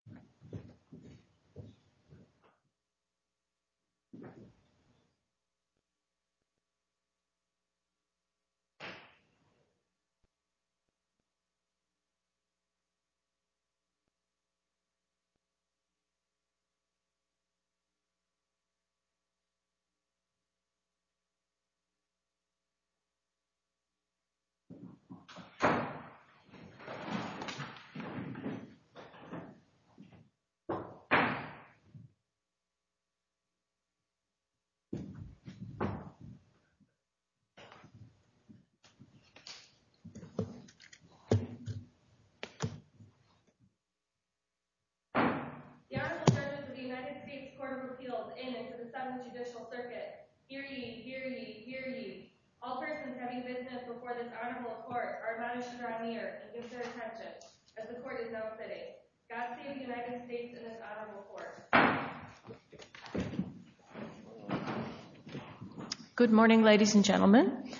Okay. Okay. Okay. Okay. Okay. Okay. Okay. Okay. Okay. Okay. Okay. Okay. Okay. Okay. The honourable judges of the United States Court of Appeals in and to the 7th Judicial Circuit, hear ye, hear ye, hear ye. All persons having business before this honourable court are admonished to draw near and give their attention, as the court is now sitting. God save the United States and this honourable court. Good morning, ladies and gentlemen.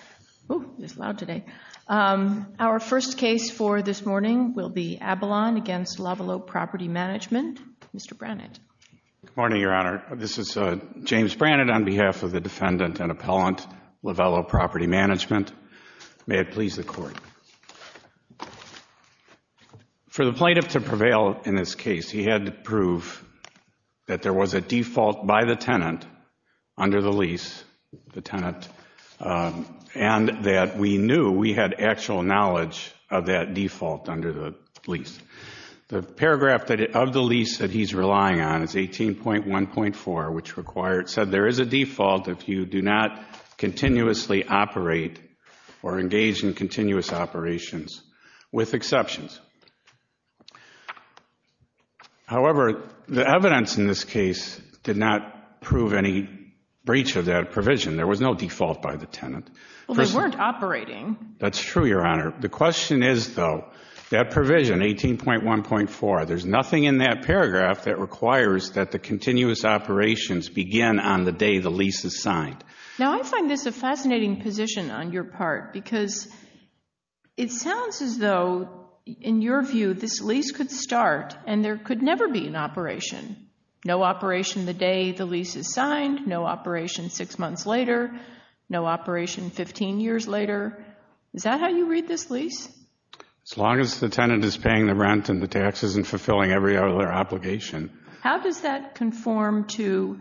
Oh, it's loud today. Our first case for this morning will be Abalon against Lavalot Property Management. Mr. Brannett. Good morning, Your Honour. This is James Brannett on behalf of the defendant and appellant, Lavalot Property Management. May it please the court. For the plaintiff to prevail in this case, he had to prove that there was a default by the tenant under the lease, the tenant, and that we knew we had actual knowledge of that default under the lease. The paragraph of the lease that he's relying on is 18.1.4, which said there is a default if you do not continuously operate or engage in continuous operations, with exceptions. However, the evidence in this case did not prove any breach of that provision. There was no default by the tenant. Well, they weren't operating. That's true, Your Honour. The question is, though, that provision, 18.1.4, there's nothing in that paragraph that requires that the continuous operations begin on the day the lease is signed. Now, I find this a fascinating position on your part because it sounds as though, in your view, this lease could start and there could never be an operation. No operation the day the lease is signed, no operation six months later, no operation 15 years later. Is that how you read this lease? As long as the tenant is paying the rent and the tax isn't fulfilling every other obligation. How does that conform to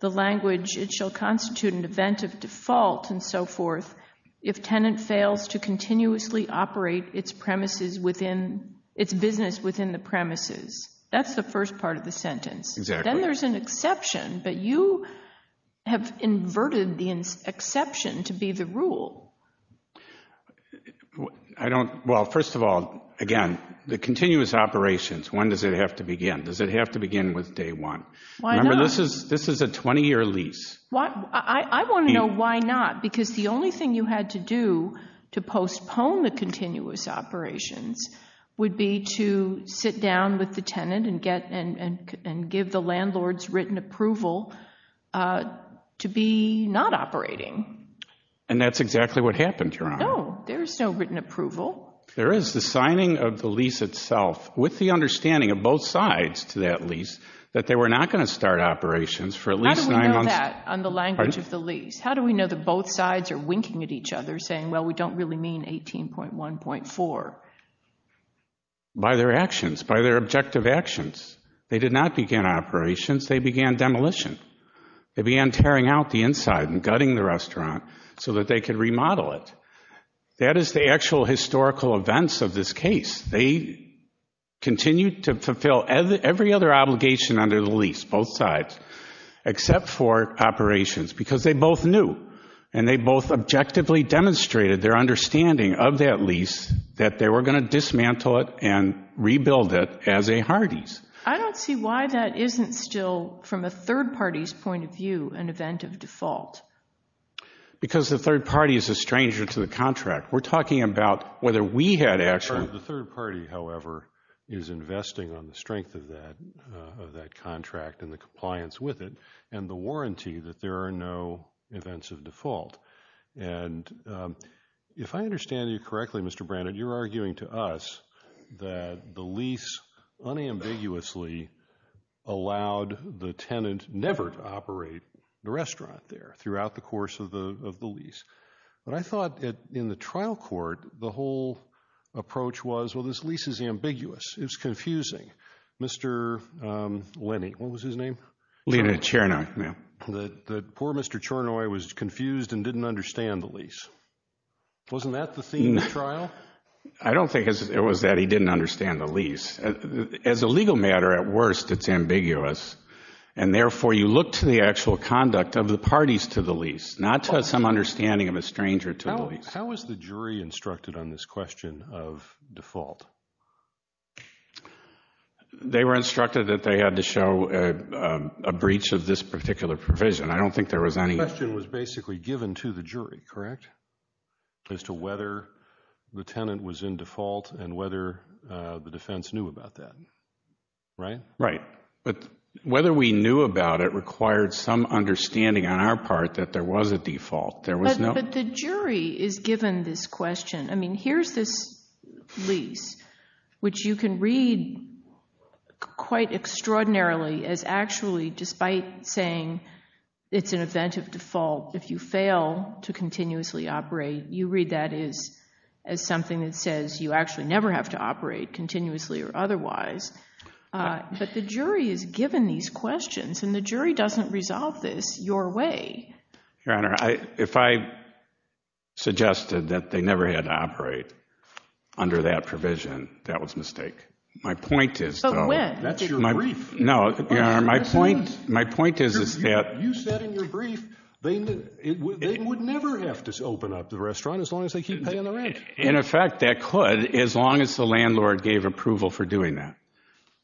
the language, it shall constitute an event of default, and so forth, if tenant fails to continuously operate its premises within, its business within the premises? That's the first part of the sentence. Exactly. Then there's an exception, but you have inverted the exception to be the rule. Well, first of all, again, the continuous operations, when does it have to begin? Does it have to begin with day one? Why not? Remember, this is a 20-year lease. I want to know why not, because the only thing you had to do to postpone the continuous operations would be to sit down with the tenant and give the landlord's written approval to be not operating. And that's exactly what happened, Your Honor. No, there is no written approval. There is. The signing of the lease itself, with the understanding of both sides to that lease, that they were not going to start operations for at least nine months. How do we know that on the language of the lease? How do we know that both sides are winking at each other saying, well, we don't really mean 18.1.4? By their actions, by their objective actions. They did not begin operations. They began demolition. They began tearing out the inside and gutting the restaurant so that they could remodel it. That is the actual historical events of this case. They continued to fulfill every other obligation under the lease, both sides, except for operations, because they both knew and they both objectively demonstrated their understanding of that lease that they were going to dismantle it and rebuild it as a Hardee's. I don't see why that isn't still, from a third party's point of view, an event of default. Because the third party is a stranger to the contract. We're talking about whether we had action. The third party, however, is investing on the strength of that contract and the compliance with it and the warranty that there are no events of default. And if I understand you correctly, Mr. Brannan, you're arguing to us that the lease unambiguously allowed the tenant never to operate the restaurant there throughout the course of the lease. But I thought in the trial court, the whole approach was, well, this lease is ambiguous. It's confusing. Mr. Lenny, what was his name? Lena Chernoy, ma'am. And the poor Mr. Chernoy was confused and didn't understand the lease. Wasn't that the theme of the trial? I don't think it was that he didn't understand the lease. As a legal matter, at worst, it's ambiguous. And therefore, you look to the actual conduct of the parties to the lease, not to some understanding of a stranger to the lease. How was the jury instructed on this question of default? They were instructed that they had to show a breach of this particular provision. I don't think there was any… The question was basically given to the jury, correct, as to whether the tenant was in default and whether the defense knew about that, right? Right. But whether we knew about it required some understanding on our part that there was a default. There was no… But the jury is given this question. I mean, here's this lease, which you can read quite extraordinarily as actually, despite saying it's an event of default, if you fail to continuously operate, you read that as something that says you actually never have to operate continuously or otherwise. But the jury is given these questions, and the jury doesn't resolve this your way. Your Honor, if I suggested that they never had to operate under that provision, that was a mistake. My point is, though… But when? That's your brief. No, Your Honor, my point is that… You said in your brief they would never have to open up the restaurant as long as they keep paying the rent. In effect, they could as long as the landlord gave approval for doing that.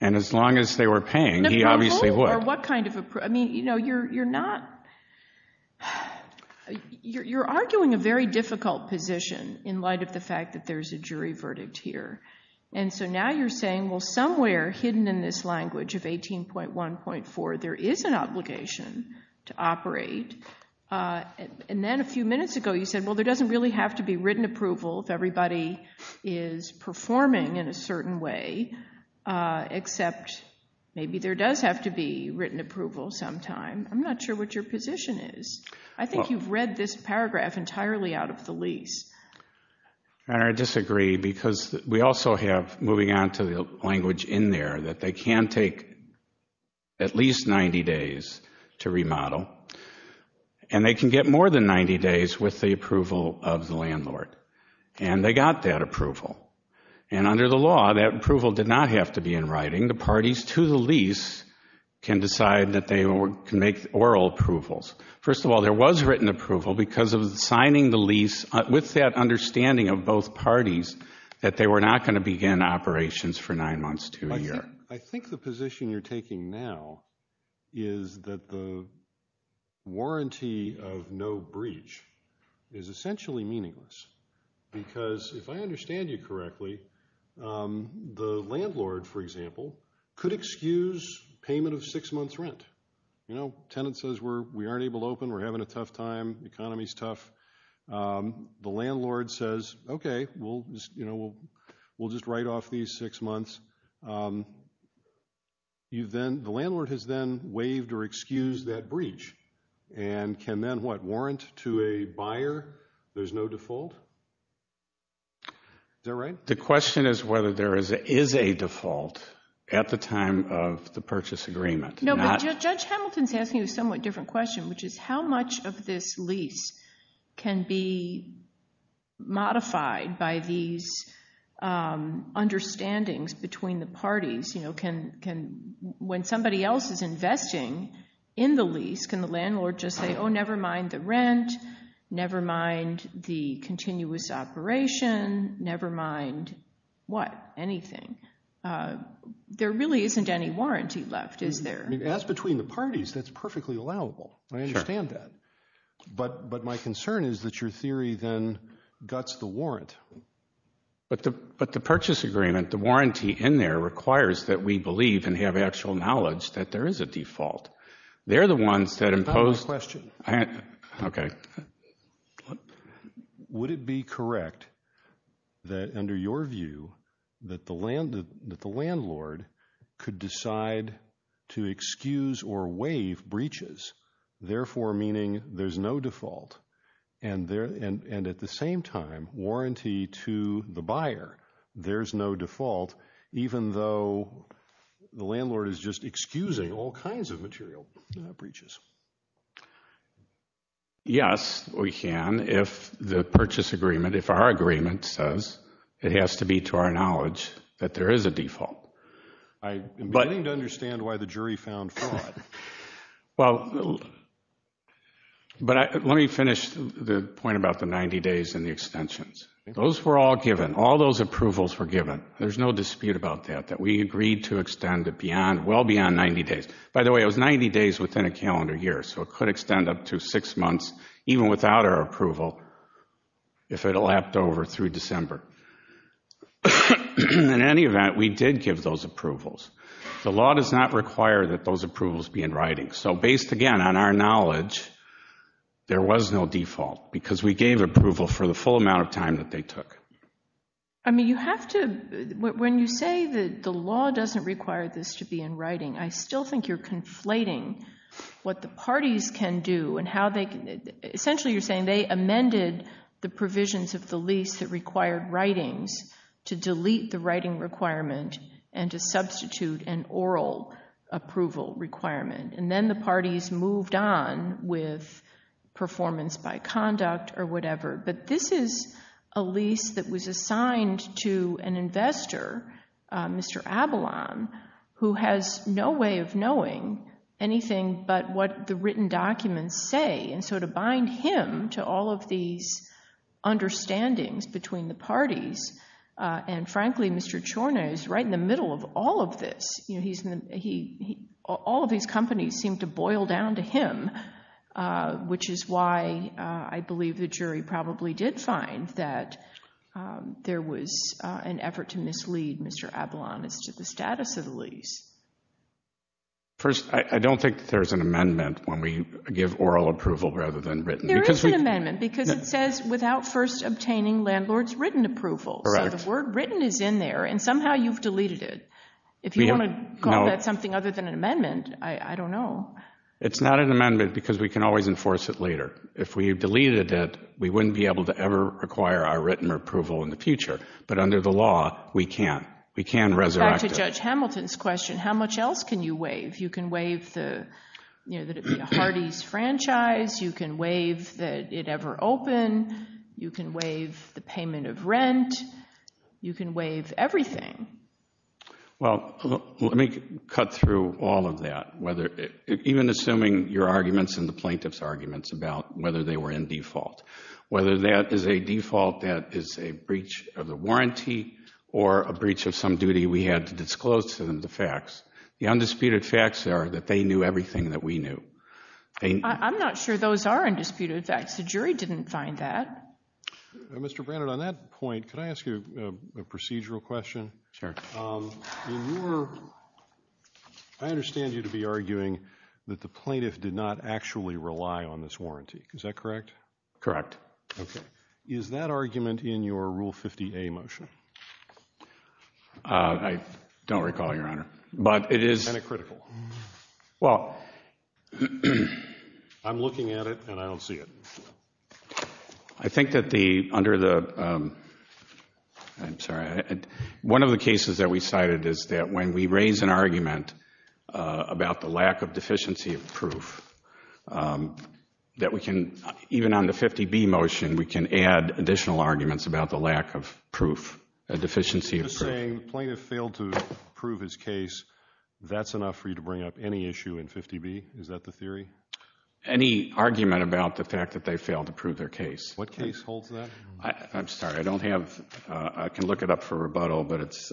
And as long as they were paying, he obviously would. I mean, you're not… You're arguing a very difficult position in light of the fact that there's a jury verdict here. And so now you're saying, well, somewhere hidden in this language of 18.1.4, there is an obligation to operate. And then a few minutes ago you said, well, there doesn't really have to be written approval if everybody is performing in a certain way, except maybe there does have to be written approval sometime. I'm not sure what your position is. I think you've read this paragraph entirely out of the lease. Your Honor, I disagree because we also have, moving on to the language in there, that they can take at least 90 days to remodel, and they can get more than 90 days with the approval of the landlord. And they got that approval. And under the law, that approval did not have to be in writing. The parties to the lease can decide that they can make oral approvals. First of all, there was written approval because of signing the lease with that understanding of both parties that they were not going to begin operations for nine months to a year. I think the position you're taking now is that the warranty of no breach is essentially meaningless. Because if I understand you correctly, the landlord, for example, could excuse payment of six months' rent. You know, tenant says we aren't able to open, we're having a tough time, economy's tough. The landlord says, okay, we'll just write off these six months. The landlord has then waived or excused that breach and can then what? There's no default? Is that right? The question is whether there is a default at the time of the purchase agreement. No, but Judge Hamilton's asking a somewhat different question, which is how much of this lease can be modified by these understandings between the parties? When somebody else is investing in the lease, can the landlord just say, oh, never mind the rent, never mind the continuous operation, never mind what? Anything? There really isn't any warranty left, is there? As between the parties, that's perfectly allowable. I understand that. But my concern is that your theory then guts the warrant. But the purchase agreement, the warranty in there requires that we believe and have actual knowledge that there is a default. They're the ones that impose. That's not my question. Okay. Would it be correct that under your view that the landlord could decide to excuse or waive breaches, therefore meaning there's no default, and at the same time, warranty to the buyer, there's no default, even though the landlord is just excusing all kinds of material breaches? Yes, we can if the purchase agreement, if our agreement says it has to be to our knowledge that there is a default. I'm beginning to understand why the jury found fraud. Well, but let me finish the point about the 90 days and the extensions. Those were all given. All those approvals were given. There's no dispute about that, that we agreed to extend it well beyond 90 days. By the way, it was 90 days within a calendar year, so it could extend up to six months even without our approval if it lapped over through December. In any event, we did give those approvals. The law does not require that those approvals be in writing. So based, again, on our knowledge, there was no default because we gave approval for the full amount of time that they took. I mean, you have to—when you say that the law doesn't require this to be in writing, I still think you're conflating what the parties can do and how they can— essentially you're saying they amended the provisions of the lease that required writings to delete the writing requirement and to substitute an oral approval requirement, and then the parties moved on with performance by conduct or whatever. But this is a lease that was assigned to an investor, Mr. Abalon, who has no way of knowing anything but what the written documents say. And so to bind him to all of these understandings between the parties, and frankly, Mr. Ciorna is right in the middle of all of this. All of these companies seem to boil down to him, which is why I believe the jury probably did find that there was an effort to mislead Mr. Abalon as to the status of the lease. First, I don't think there's an amendment when we give oral approval rather than written. There is an amendment because it says without first obtaining landlord's written approval. Correct. So the word written is in there, and somehow you've deleted it. If you want to call that something other than an amendment, I don't know. It's not an amendment because we can always enforce it later. If we deleted it, we wouldn't be able to ever require our written approval in the future. But under the law, we can. We can resurrect it. Going back to Judge Hamilton's question, how much else can you waive? You can waive that it be a Hardee's franchise. You can waive that it ever open. You can waive the payment of rent. You can waive everything. Well, let me cut through all of that, even assuming your arguments and the plaintiff's arguments about whether they were in default. Whether that is a default that is a breach of the warranty or a breach of some duty we had to disclose to them the facts. The undisputed facts are that they knew everything that we knew. I'm not sure those are undisputed facts. The jury didn't find that. Mr. Brannert, on that point, can I ask you a procedural question? Sure. I understand you to be arguing that the plaintiff did not actually rely on this warranty. Is that correct? Correct. Okay. Is that argument in your Rule 50A motion? I don't recall, Your Honor. And it's critical? Well, I'm looking at it and I don't see it. I think that under the—I'm sorry. One of the cases that we cited is that when we raise an argument about the lack of deficiency of proof, that we can, even on the 50B motion, we can add additional arguments about the lack of proof, a deficiency of proof. You're saying the plaintiff failed to prove his case. That's enough for you to bring up any issue in 50B? Is that the theory? Any argument about the fact that they failed to prove their case. What case holds that? I'm sorry. I don't have—I can look it up for rebuttal, but it's—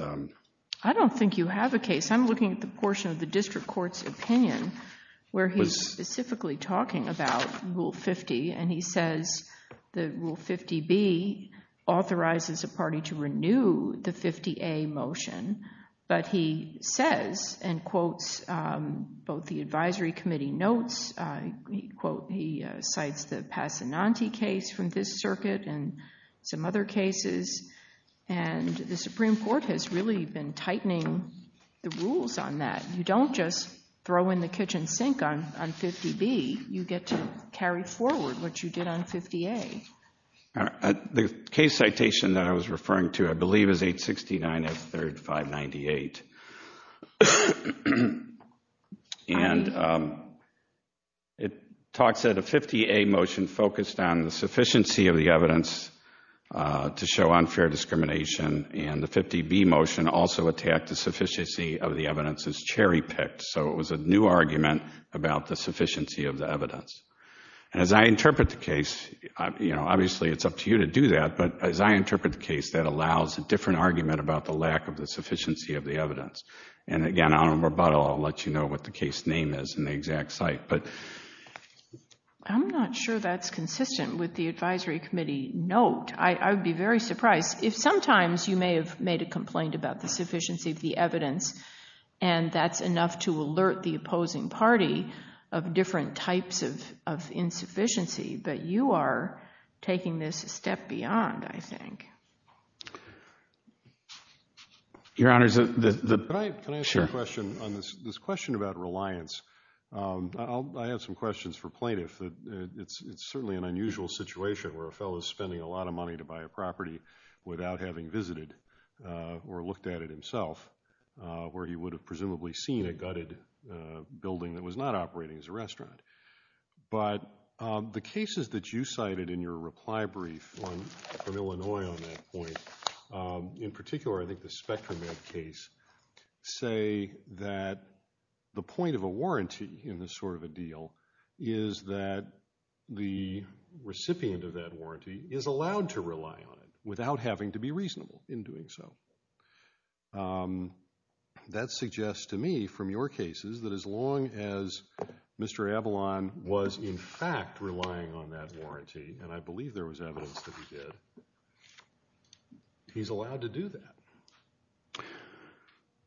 I don't think you have a case. I'm looking at the portion of the district court's opinion where he's specifically talking about Rule 50 and he says that Rule 50B authorizes a party to renew the 50A motion, but he says and quotes both the advisory committee notes. He quotes—he cites the Passananti case from this circuit and some other cases, and the Supreme Court has really been tightening the rules on that. You don't just throw in the kitchen sink on 50B. You get to carry forward what you did on 50A. The case citation that I was referring to, I believe, is 869 F. 3rd, 598, and it talks about a 50A motion focused on the sufficiency of the evidence to show unfair discrimination, and the 50B motion also attacked the sufficiency of the evidence as cherry-picked, so it was a new argument about the sufficiency of the evidence. And as I interpret the case, you know, obviously it's up to you to do that, but as I interpret the case, that allows a different argument about the lack of the sufficiency of the evidence. And again, on rebuttal, I'll let you know what the case name is and the exact site. I'm not sure that's consistent with the advisory committee note. I would be very surprised. If sometimes you may have made a complaint about the sufficiency of the evidence and that's enough to alert the opposing party of different types of insufficiency, but you are taking this a step beyond, I think. Your Honors, can I ask a question on this question about reliance? I have some questions for plaintiffs. It's certainly an unusual situation where a fellow is spending a lot of money to buy a property without having visited or looked at it himself, where he would have presumably seen a gutted building that was not operating as a restaurant. But the cases that you cited in your reply brief from Illinois on that point, in particular I think the Spectrum Ed case, say that the point of a warranty in this sort of a deal is that the recipient of that warranty is allowed to rely on it without having to be reasonable in doing so. That suggests to me from your cases that as long as Mr. Avalon was in fact relying on that warranty, and I believe there was evidence that he did, he's allowed to do that.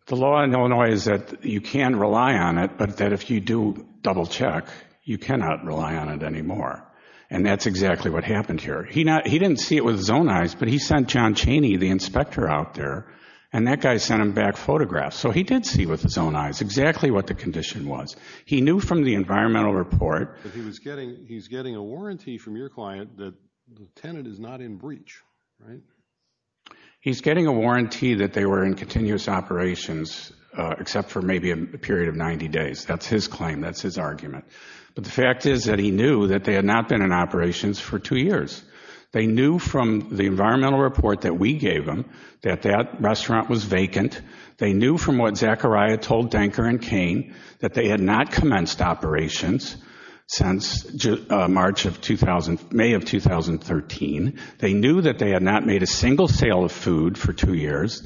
The law in Illinois is that you can rely on it, but that if you do double check, you cannot rely on it anymore. And that's exactly what happened here. He didn't see it with his own eyes, but he sent John Chaney, the inspector out there, and that guy sent him back photographs. So he did see with his own eyes exactly what the condition was. He knew from the environmental report that he was getting a warranty from your client that the tenant is not in breach. He's getting a warranty that they were in continuous operations except for maybe a period of 90 days. That's his claim. That's his argument. But the fact is that he knew that they had not been in operations for two years. They knew from the environmental report that we gave them that that restaurant was vacant. They knew from what Zachariah told Denker and Cain that they had not commenced operations since May of 2013. They knew that they had not made a single sale of food for two years.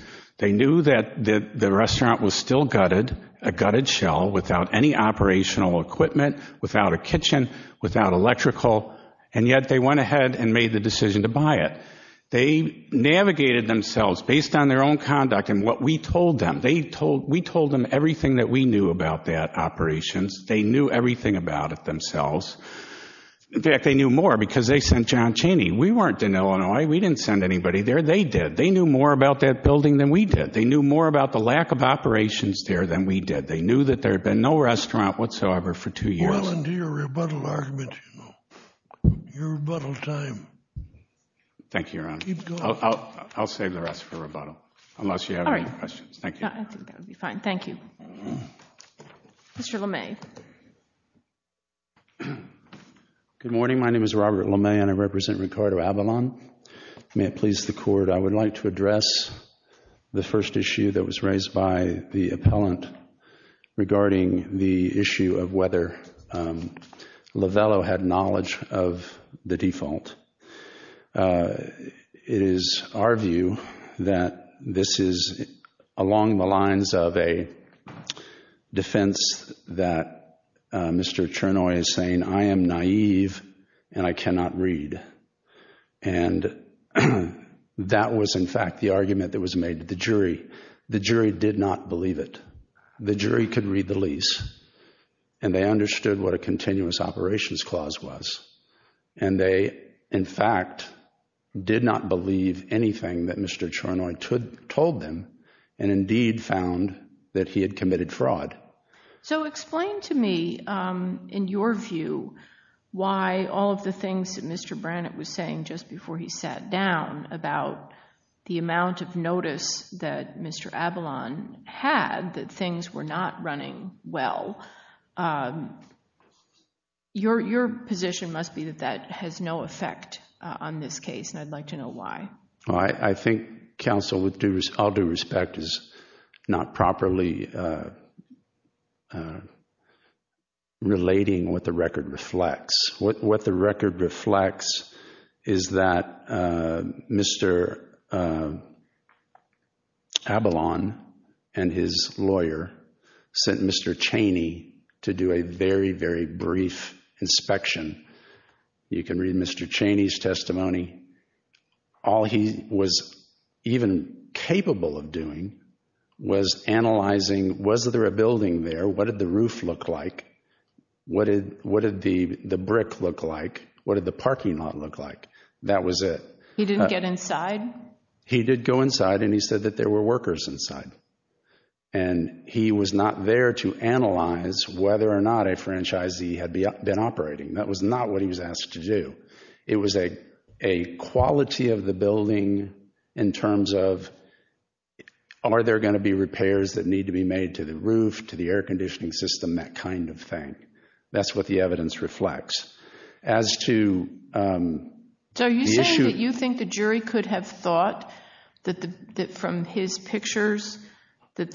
without any operational equipment, without a kitchen, without electrical, and yet they went ahead and made the decision to buy it. They navigated themselves based on their own conduct and what we told them. We told them everything that we knew about that operations. They knew everything about it themselves. In fact, they knew more because they sent John Chaney. We weren't in Illinois. We didn't send anybody there. They did. They knew more about that building than we did. They knew more about the lack of operations there than we did. They knew that there had been no restaurant whatsoever for two years. Well into your rebuttal argument, you know. Your rebuttal time. Thank you, Your Honor. Keep going. I'll save the rest for rebuttal unless you have any questions. All right. Thank you. I think that would be fine. Thank you. Mr. LeMay. Good morning. My name is Robert LeMay and I represent Ricardo Avalon. May it please the Court. I would like to address the first issue that was raised by the appellant regarding the issue of whether Lovello had knowledge of the default. It is our view that this is along the lines of a defense that Mr. Chernoy is saying, I am naive and I cannot read. And that was, in fact, the argument that was made to the jury. The jury did not believe it. The jury could read the lease and they understood what a continuous operations clause was. And they, in fact, did not believe anything that Mr. Chernoy told them and indeed found that he had committed fraud. So explain to me, in your view, why all of the things that Mr. Brannett was saying just before he sat down about the amount of notice that Mr. Avalon had that things were not running well. Your position must be that that has no effect on this case and I'd like to know why. I think counsel, with all due respect, is not properly relating what the record reflects. What the record reflects is that Mr. Avalon and his lawyer sent Mr. Cheney to do a very, very brief inspection. You can read Mr. Cheney's testimony. All he was even capable of doing was analyzing, was there a building there? What did the roof look like? What did the brick look like? What did the parking lot look like? That was it. He didn't get inside? He did go inside and he said that there were workers inside. And he was not there to analyze whether or not a franchisee had been operating. That was not what he was asked to do. It was a quality of the building in terms of are there going to be repairs that need to be made to the roof, to the air conditioning system, that kind of thing. That's what the evidence reflects. As to the issue— So are you saying that you think the jury could have thought from his pictures That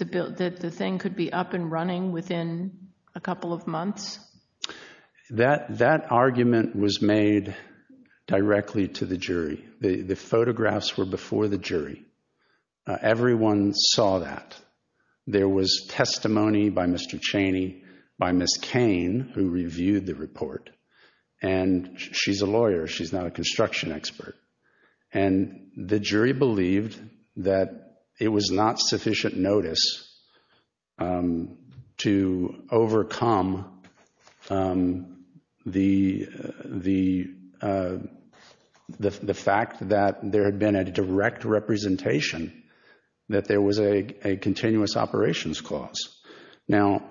argument was made directly to the jury. The photographs were before the jury. Everyone saw that. There was testimony by Mr. Cheney, by Ms. Cain, who reviewed the report. And she's a lawyer. She's not a construction expert. And the jury believed that it was not sufficient notice to overcome the fact that there had been a direct representation that there was a continuous operations clause. Now,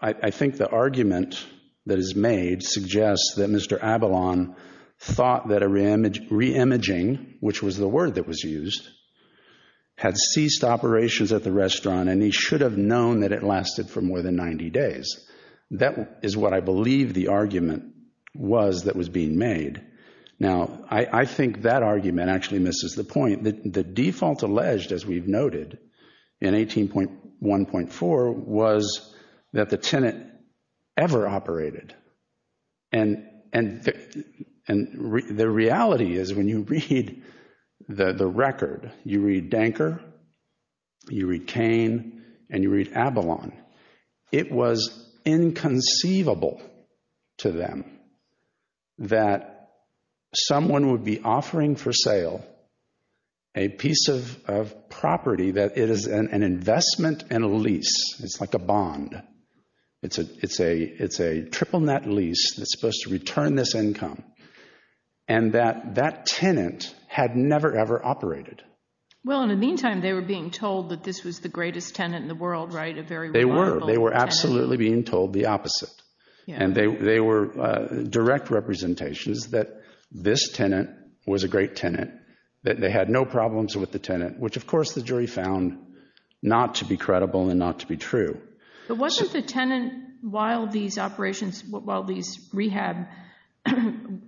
I think the argument that is made suggests that Mr. Abalon thought that a re-imaging, which was the word that was used, had ceased operations at the restaurant, and he should have known that it lasted for more than 90 days. That is what I believe the argument was that was being made. Now, I think that argument actually misses the point. The default alleged, as we've noted, in 18.1.4, was that the tenant ever operated. And the reality is, when you read the record, you read Danker, you read Cain, and you read Abalon, it was inconceivable to them that someone would be offering for sale a piece of property that is an investment and a lease. It's like a bond. It's a triple-net lease that's supposed to return this income, and that tenant had never, ever operated. Well, in the meantime, they were being told that this was the greatest tenant in the world, right? They were. They were absolutely being told the opposite. And they were direct representations that this tenant was a great tenant, that they had no problems with the tenant, which, of course, the jury found not to be credible and not to be true. But wasn't the tenant, while these operations, while these rehab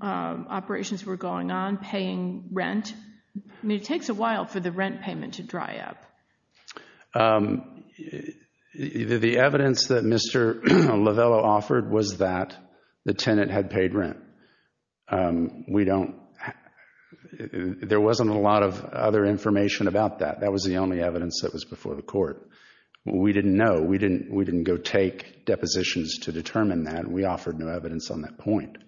operations were going on, paying rent? I mean, it takes a while for the rent payment to dry up. The evidence that Mr. Lovello offered was that the tenant had paid rent. We don't—there wasn't a lot of other information about that. That was the only evidence that was before the court. We didn't know. We didn't go take depositions to determine that. We offered no evidence on that point.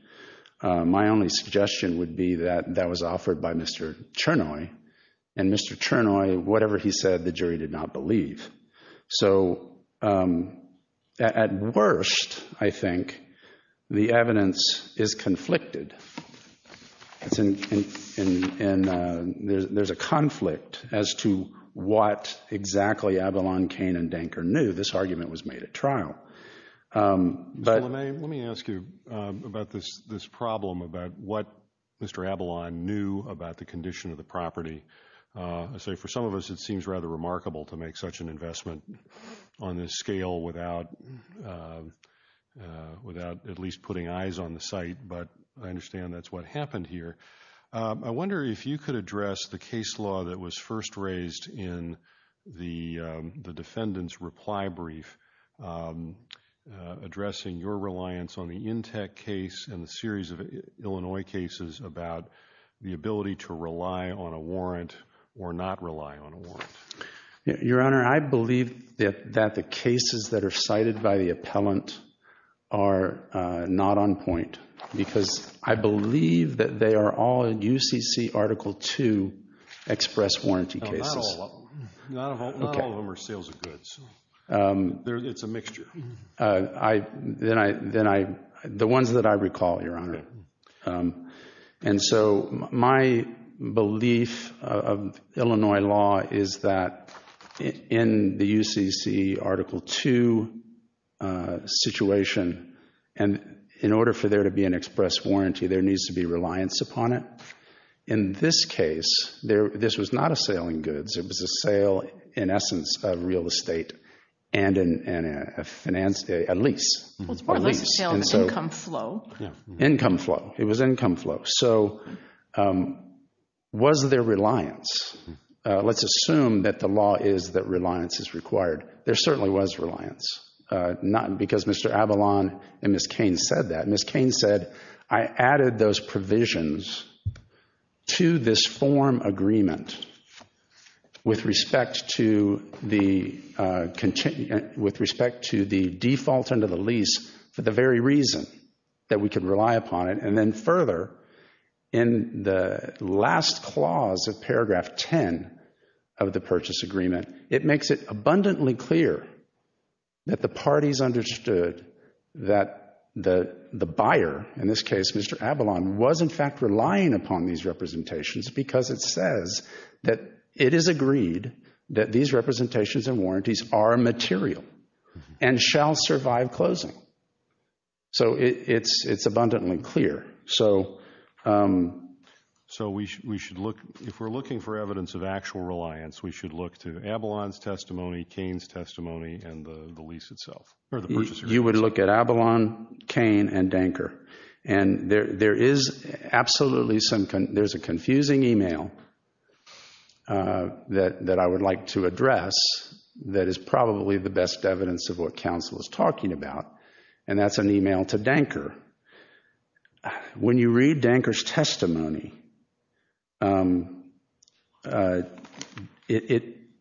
My only suggestion would be that that was offered by Mr. Chernoy, and Mr. Chernoy, whatever he said, the jury did not believe. So at worst, I think, the evidence is conflicted. And there's a conflict as to what exactly Avalon, Kane, and Denker knew. This argument was made at trial. Mr. Lemay, let me ask you about this problem, about what Mr. Avalon knew about the condition of the property. I say for some of us it seems rather remarkable to make such an investment on this scale without at least putting eyes on the site. But I understand that's what happened here. I wonder if you could address the case law that was first raised in the defendant's reply brief, addressing your reliance on the Intec case and the series of Illinois cases about the ability to rely on a warrant or not rely on a warrant. Your Honor, I believe that the cases that are cited by the appellant are not on point because I believe that they are all UCC Article II express warranty cases. Not all of them are sales of goods. It's a mixture. The ones that I recall, Your Honor. My belief of Illinois law is that in the UCC Article II situation, in order for there to be an express warranty, there needs to be reliance upon it. In this case, this was not a sale of goods. It was a sale, in essence, of real estate and a lease. It's more like a sale than income flow. Income flow. It was income flow. So was there reliance? Let's assume that the law is that reliance is required. There certainly was reliance. Not because Mr. Avalon and Ms. Cain said that. Ms. Cain said, I added those provisions to this form agreement with respect to the default under the lease for the very reason that we can rely upon it. And then further, in the last clause of paragraph 10 of the purchase agreement, it makes it abundantly clear that the parties understood that the buyer, in this case Mr. Avalon, was in fact relying upon these representations because it says that it is agreed that these representations and warranties are material and shall survive closing. So it's abundantly clear. So if we're looking for evidence of actual reliance, we should look to Avalon's testimony, Cain's testimony, and the lease itself. You would look at Avalon, Cain, and Danker. And there is absolutely some, there's a confusing email that I would like to address that is probably the best evidence of what counsel is talking about, and that's an email to Danker. When you read Danker's testimony,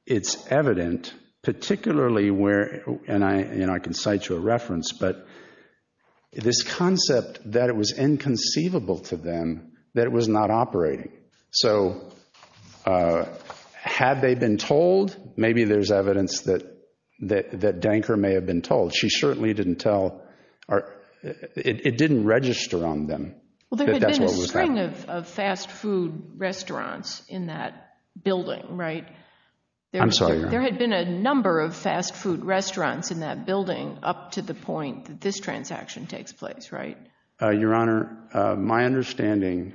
it's evident, particularly where, and I can cite you a reference, but this concept that it was inconceivable to them that it was not operating. So had they been told? Maybe there's evidence that Danker may have been told. She certainly didn't tell, or it didn't register on them. Well, there had been a string of fast food restaurants in that building, right? I'm sorry. There had been a number of fast food restaurants in that building up to the point that this transaction takes place, right? Your Honor, my understanding,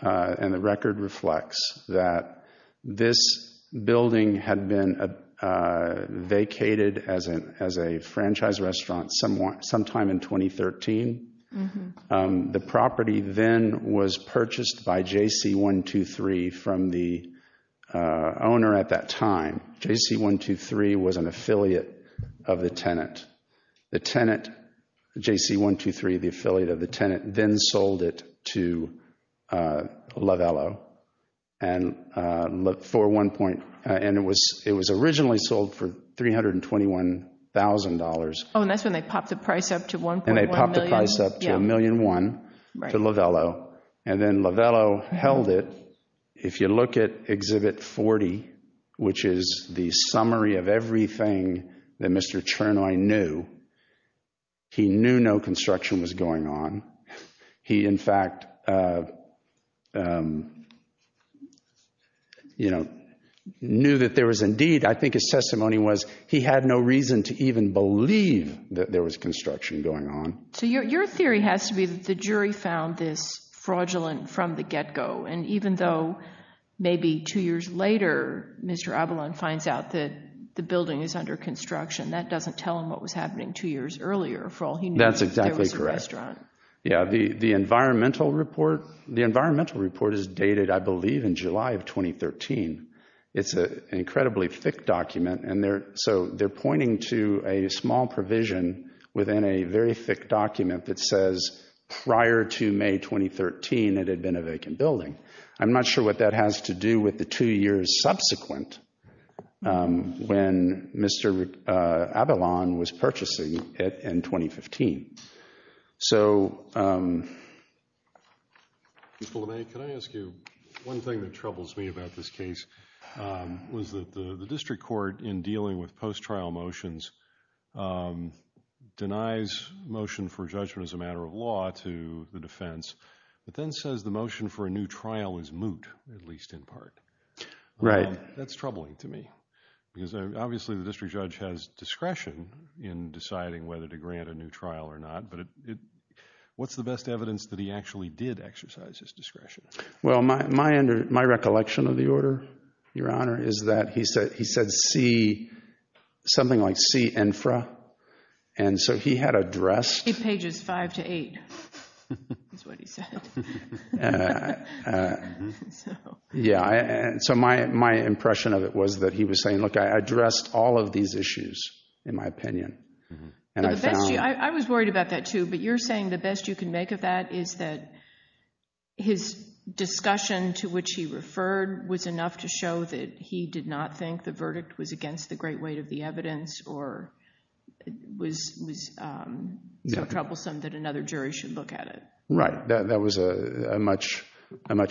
and the record reflects, that this building had been vacated as a franchise restaurant sometime in 2013. The property then was purchased by JC123 from the owner at that time, JC123 was an affiliate of the tenant. The tenant, JC123, the affiliate of the tenant, then sold it to Lavello, and it was originally sold for $321,000. Oh, and that's when they popped the price up to $1.1 million. And they popped the price up to $1.1 million to Lavello, and then Lavello held it. If you look at Exhibit 40, which is the summary of everything that Mr. Chernoy knew, he knew no construction was going on. He, in fact, knew that there was indeed, I think his testimony was, he had no reason to even believe that there was construction going on. So your theory has to be that the jury found this fraudulent from the get-go, and even though maybe two years later, Mr. Abalone finds out that the building is under construction, that doesn't tell him what was happening two years earlier. That's exactly correct. Yeah, the environmental report is dated, I believe, in July of 2013. It's an incredibly thick document, and so they're pointing to a small provision within a very thick document that says prior to May 2013 it had been a vacant building. I'm not sure what that has to do with the two years subsequent when Mr. Abalone was purchasing it in 2015. So... Mr. Lemay, can I ask you, one thing that troubles me about this case was that the district court, in dealing with post-trial motions, denies motion for judgment as a matter of law to the defense, but then says the motion for a new trial is moot, at least in part. Right. That's troubling to me, because obviously the district judge has discretion in deciding whether to grant a new trial or not, Well, my recollection of the order, Your Honor, is that he said something like C-INFRA, and so he had addressed... It's pages 5 to 8, is what he said. Yeah, so my impression of it was that he was saying, look, I addressed all of these issues, in my opinion, and I found... I was worried about that too, but you're saying the best you can make of that is that his discussion to which he referred was enough to show that he did not think the verdict was against the great weight of the evidence or was so troublesome that another jury should look at it. Right. That was a much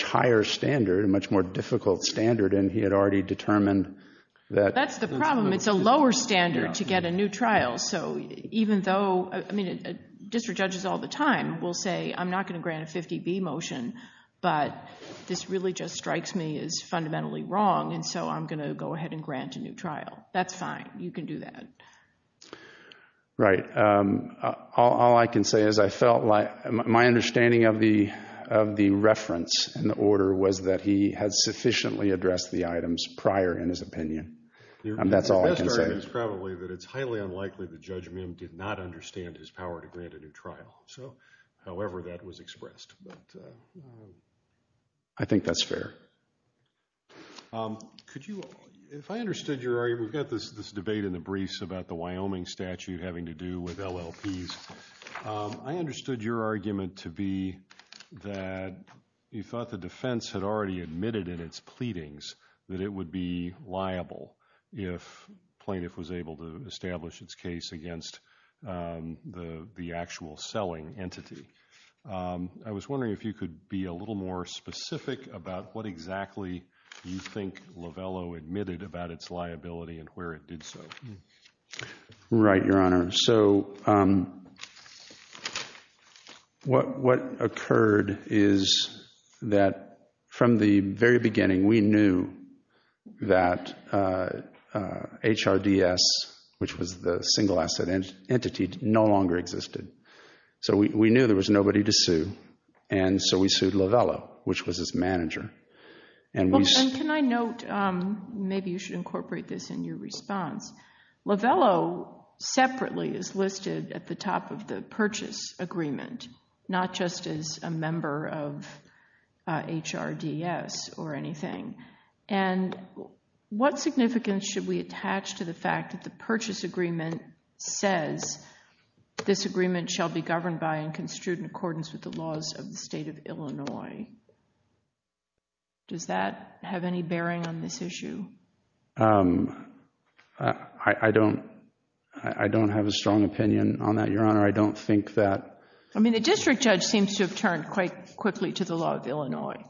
higher standard, a much more difficult standard, and he had already determined that... That's the problem. It's a lower standard to get a new trial, so even though... I'm not going to grant a 50-B motion, but this really just strikes me as fundamentally wrong, and so I'm going to go ahead and grant a new trial. That's fine. You can do that. Right. All I can say is I felt like my understanding of the reference in the order was that he had sufficiently addressed the items prior in his opinion. That's all I can say. Your best argument is probably that it's highly unlikely that Judge Mim did not understand his power to grant a new trial. However, that was expressed. I think that's fair. Could you... If I understood your argument, we've got this debate in the briefs about the Wyoming statute having to do with LLPs. I understood your argument to be that you thought the defense had already admitted in its pleadings that it would be liable if a plaintiff was able to establish its case against the actual selling entity. I was wondering if you could be a little more specific about what exactly you think Lovello admitted about its liability and where it did so. Right, Your Honor. So what occurred is that from the very beginning we knew that HRDS, which was the single asset entity, no longer existed. So we knew there was nobody to sue, and so we sued Lovello, which was its manager. And can I note, maybe you should incorporate this in your response, Lovello separately is listed at the top of the purchase agreement, not just as a member of HRDS or anything. And what significance should we attach to the fact that the purchase agreement says this agreement shall be governed by and construed in accordance with the laws of the state of Illinois? Does that have any bearing on this issue? I don't have a strong opinion on that, Your Honor. I don't think that— I mean, the district judge seems to have turned quite quickly to the law of Illinois,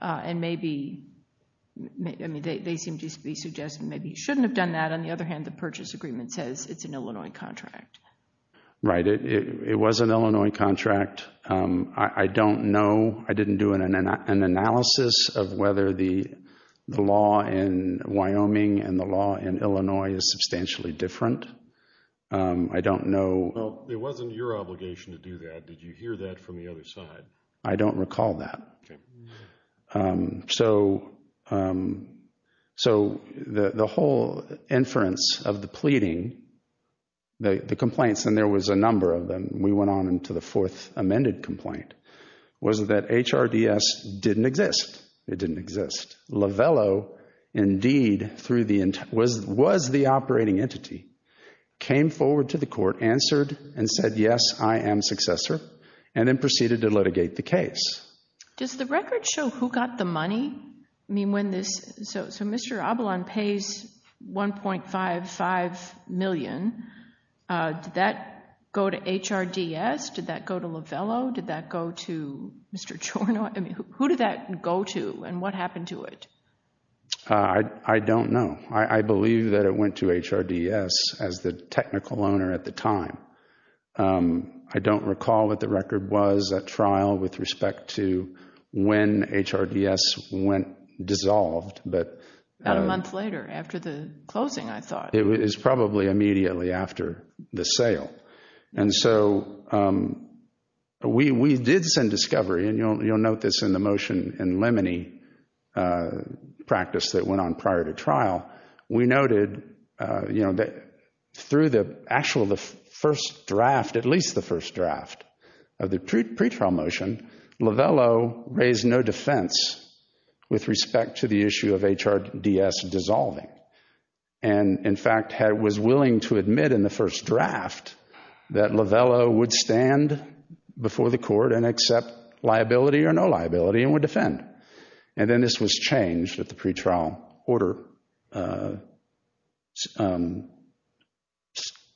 and maybe—I mean, they seem to be suggesting maybe you shouldn't have done that. On the other hand, the purchase agreement says it's an Illinois contract. Right, it was an Illinois contract. I don't know. I didn't do an analysis of whether the law in Wyoming and the law in Illinois is substantially different. I don't know. Well, it wasn't your obligation to do that. Did you hear that from the other side? I don't recall that. So the whole inference of the pleading, the complaints, and there was a number of them, we went on into the fourth amended complaint, was that HRDS didn't exist. It didn't exist. Lovello, indeed, was the operating entity, came forward to the court, answered, and said, yes, I am successor, and then proceeded to litigate the case. Does the record show who got the money? I mean, when this—so Mr. Abalon pays $1.55 million. Did that go to HRDS? Did that go to Lovello? Did that go to Mr. Chornoff? I mean, who did that go to, and what happened to it? I don't know. I believe that it went to HRDS as the technical owner at the time. I don't recall what the record was at trial with respect to when HRDS went dissolved. About a month later, after the closing, I thought. It was probably immediately after the sale. And so we did send discovery, and you'll note this in the motion in Lemony practice that went on prior to trial. We noted that through the actual first draft, at least the first draft of the pretrial motion, Lovello raised no defense with respect to the issue of HRDS dissolving. And, in fact, was willing to admit in the first draft that Lovello would stand before the court and accept liability or no liability and would defend. And then this was changed at the pretrial order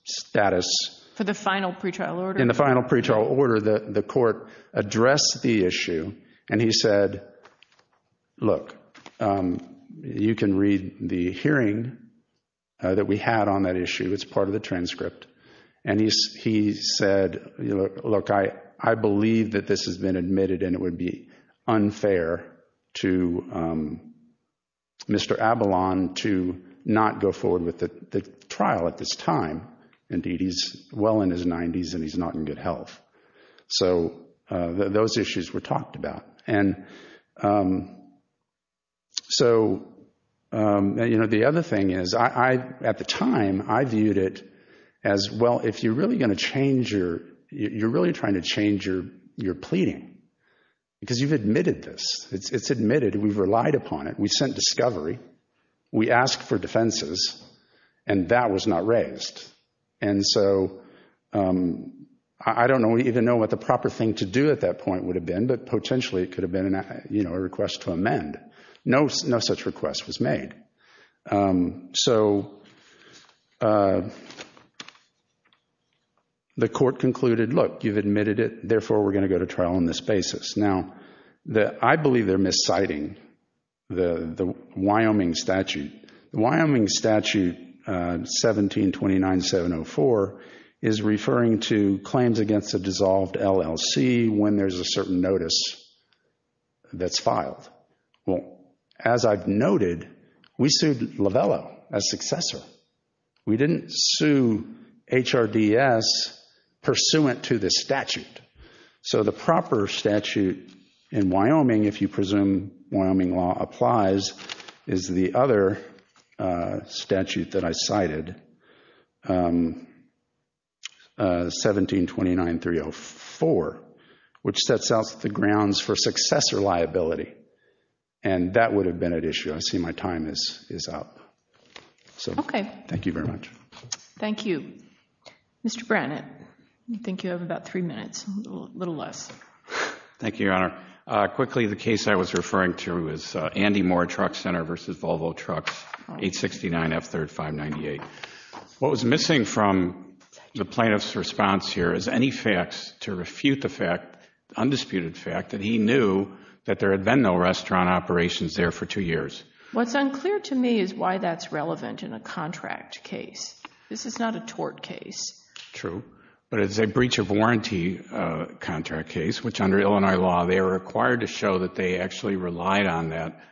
status. For the final pretrial order? In the final pretrial order, the court addressed the issue, and he said, look, you can read the hearing that we had on that issue. It's part of the transcript. And he said, look, I believe that this has been admitted and it would be unfair to Mr. Abalon to not go forward with the trial at this time. Indeed, he's well in his 90s and he's not in good health. So those issues were talked about. And so the other thing is, at the time, I viewed it as, well, if you're really going to change your, you're really trying to change your pleading, because you've admitted this. It's admitted. We've relied upon it. We sent discovery. We asked for defenses, and that was not raised. And so I don't even know what the proper thing to do at that point would have been, but potentially it could have been a request to amend. No such request was made. So the court concluded, look, you've admitted it, therefore we're going to go to trial on this basis. Now, I believe they're misciting the Wyoming statute. The Wyoming statute 1729704 is referring to claims against a dissolved LLC when there's a certain notice that's filed. Well, as I've noted, we sued Lovello, a successor. We didn't sue HRDS pursuant to this statute. So the proper statute in Wyoming, if you presume Wyoming law applies, is the other statute that I cited, 1729304, which sets out the grounds for successor liability. And that would have been at issue. I see my time is up. Okay. Thank you very much. Thank you. Mr. Brannett, I think you have about three minutes, a little less. Thank you, Your Honor. Quickly, the case I was referring to is Andy Moore Truck Center v. Volvo Trucks, 869 F3rd 598. What was missing from the plaintiff's response here is any facts to refute the fact, undisputed fact, that he knew that there had been no restaurant operations there for two years. What's unclear to me is why that's relevant in a contract case. This is not a tort case. True. But it's a breach of warranty contract case, which under Illinois law, they are required to show that they actually relied on that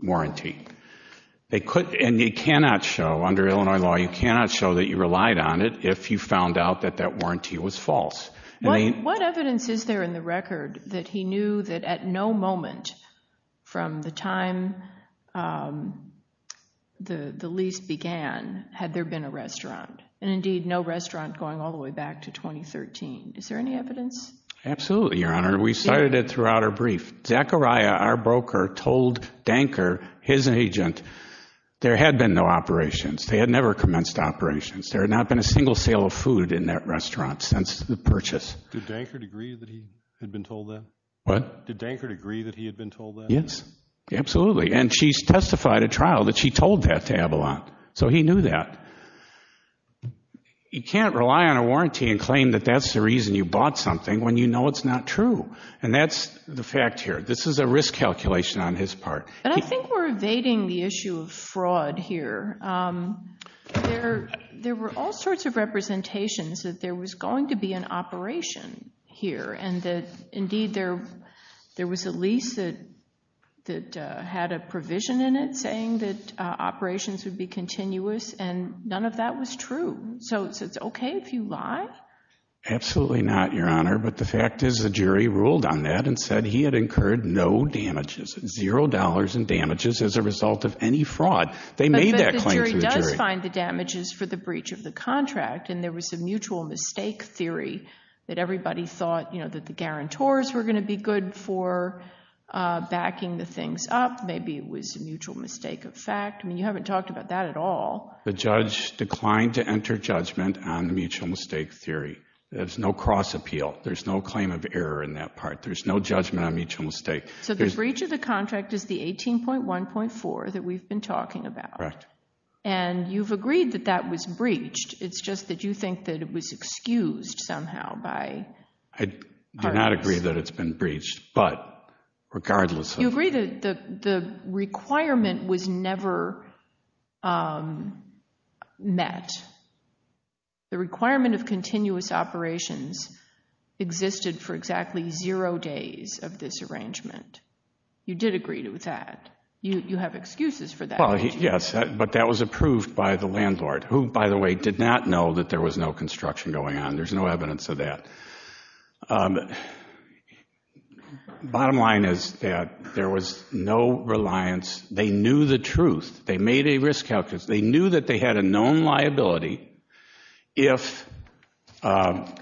warranty. And you cannot show, under Illinois law, you cannot show that you relied on it if you found out that that warranty was false. What evidence is there in the record that he knew that at no moment from the time the lease began had there been a restaurant, and indeed no restaurant going all the way back to 2013? Is there any evidence? Absolutely, Your Honor. We cited it throughout our brief. Zachariah, our broker, told Danker, his agent, there had been no operations. They had never commenced operations. There had not been a single sale of food in that restaurant since the purchase. Did Danker agree that he had been told that? What? Did Danker agree that he had been told that? Yes, absolutely. And she testified at trial that she told that to Avalon. So he knew that. You can't rely on a warranty and claim that that's the reason you bought something when you know it's not true. And that's the fact here. This is a risk calculation on his part. But I think we're evading the issue of fraud here. There were all sorts of representations that there was going to be an operation here and that, indeed, there was a lease that had a provision in it saying that operations would be continuous, and none of that was true. So it's okay if you lie? Absolutely not, Your Honor. But the fact is the jury ruled on that and said he had incurred no damages, zero dollars in damages as a result of any fraud. They made that claim to the jury. But the jury does find the damages for the breach of the contract, and there was a mutual mistake theory that everybody thought, you know, that the guarantors were going to be good for backing the things up. Maybe it was a mutual mistake of fact. I mean, you haven't talked about that at all. The judge declined to enter judgment on the mutual mistake theory. There's no cross appeal. There's no claim of error in that part. There's no judgment on mutual mistake. So the breach of the contract is the 18.1.4 that we've been talking about. Correct. And you've agreed that that was breached. It's just that you think that it was excused somehow by parties. I do not agree that it's been breached. You agree that the requirement was never met. The requirement of continuous operations existed for exactly zero days of this arrangement. You did agree with that. You have excuses for that. Yes, but that was approved by the landlord, who, by the way, did not know that there was no construction going on. There's no evidence of that. Bottom line is that there was no reliance. They knew the truth. They made a risk calculus. They knew that they had a known liability if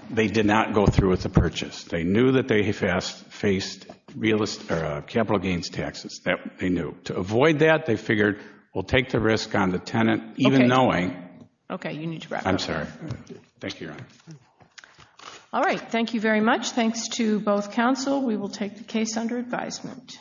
they did not go through with the purchase. They knew that they faced capital gains taxes. They knew. To avoid that, they figured we'll take the risk on the tenant, even knowing. I'm sorry. Thank you, Your Honor. All right. Thank you very much. Thanks to both counsel. We will take the case under advisement.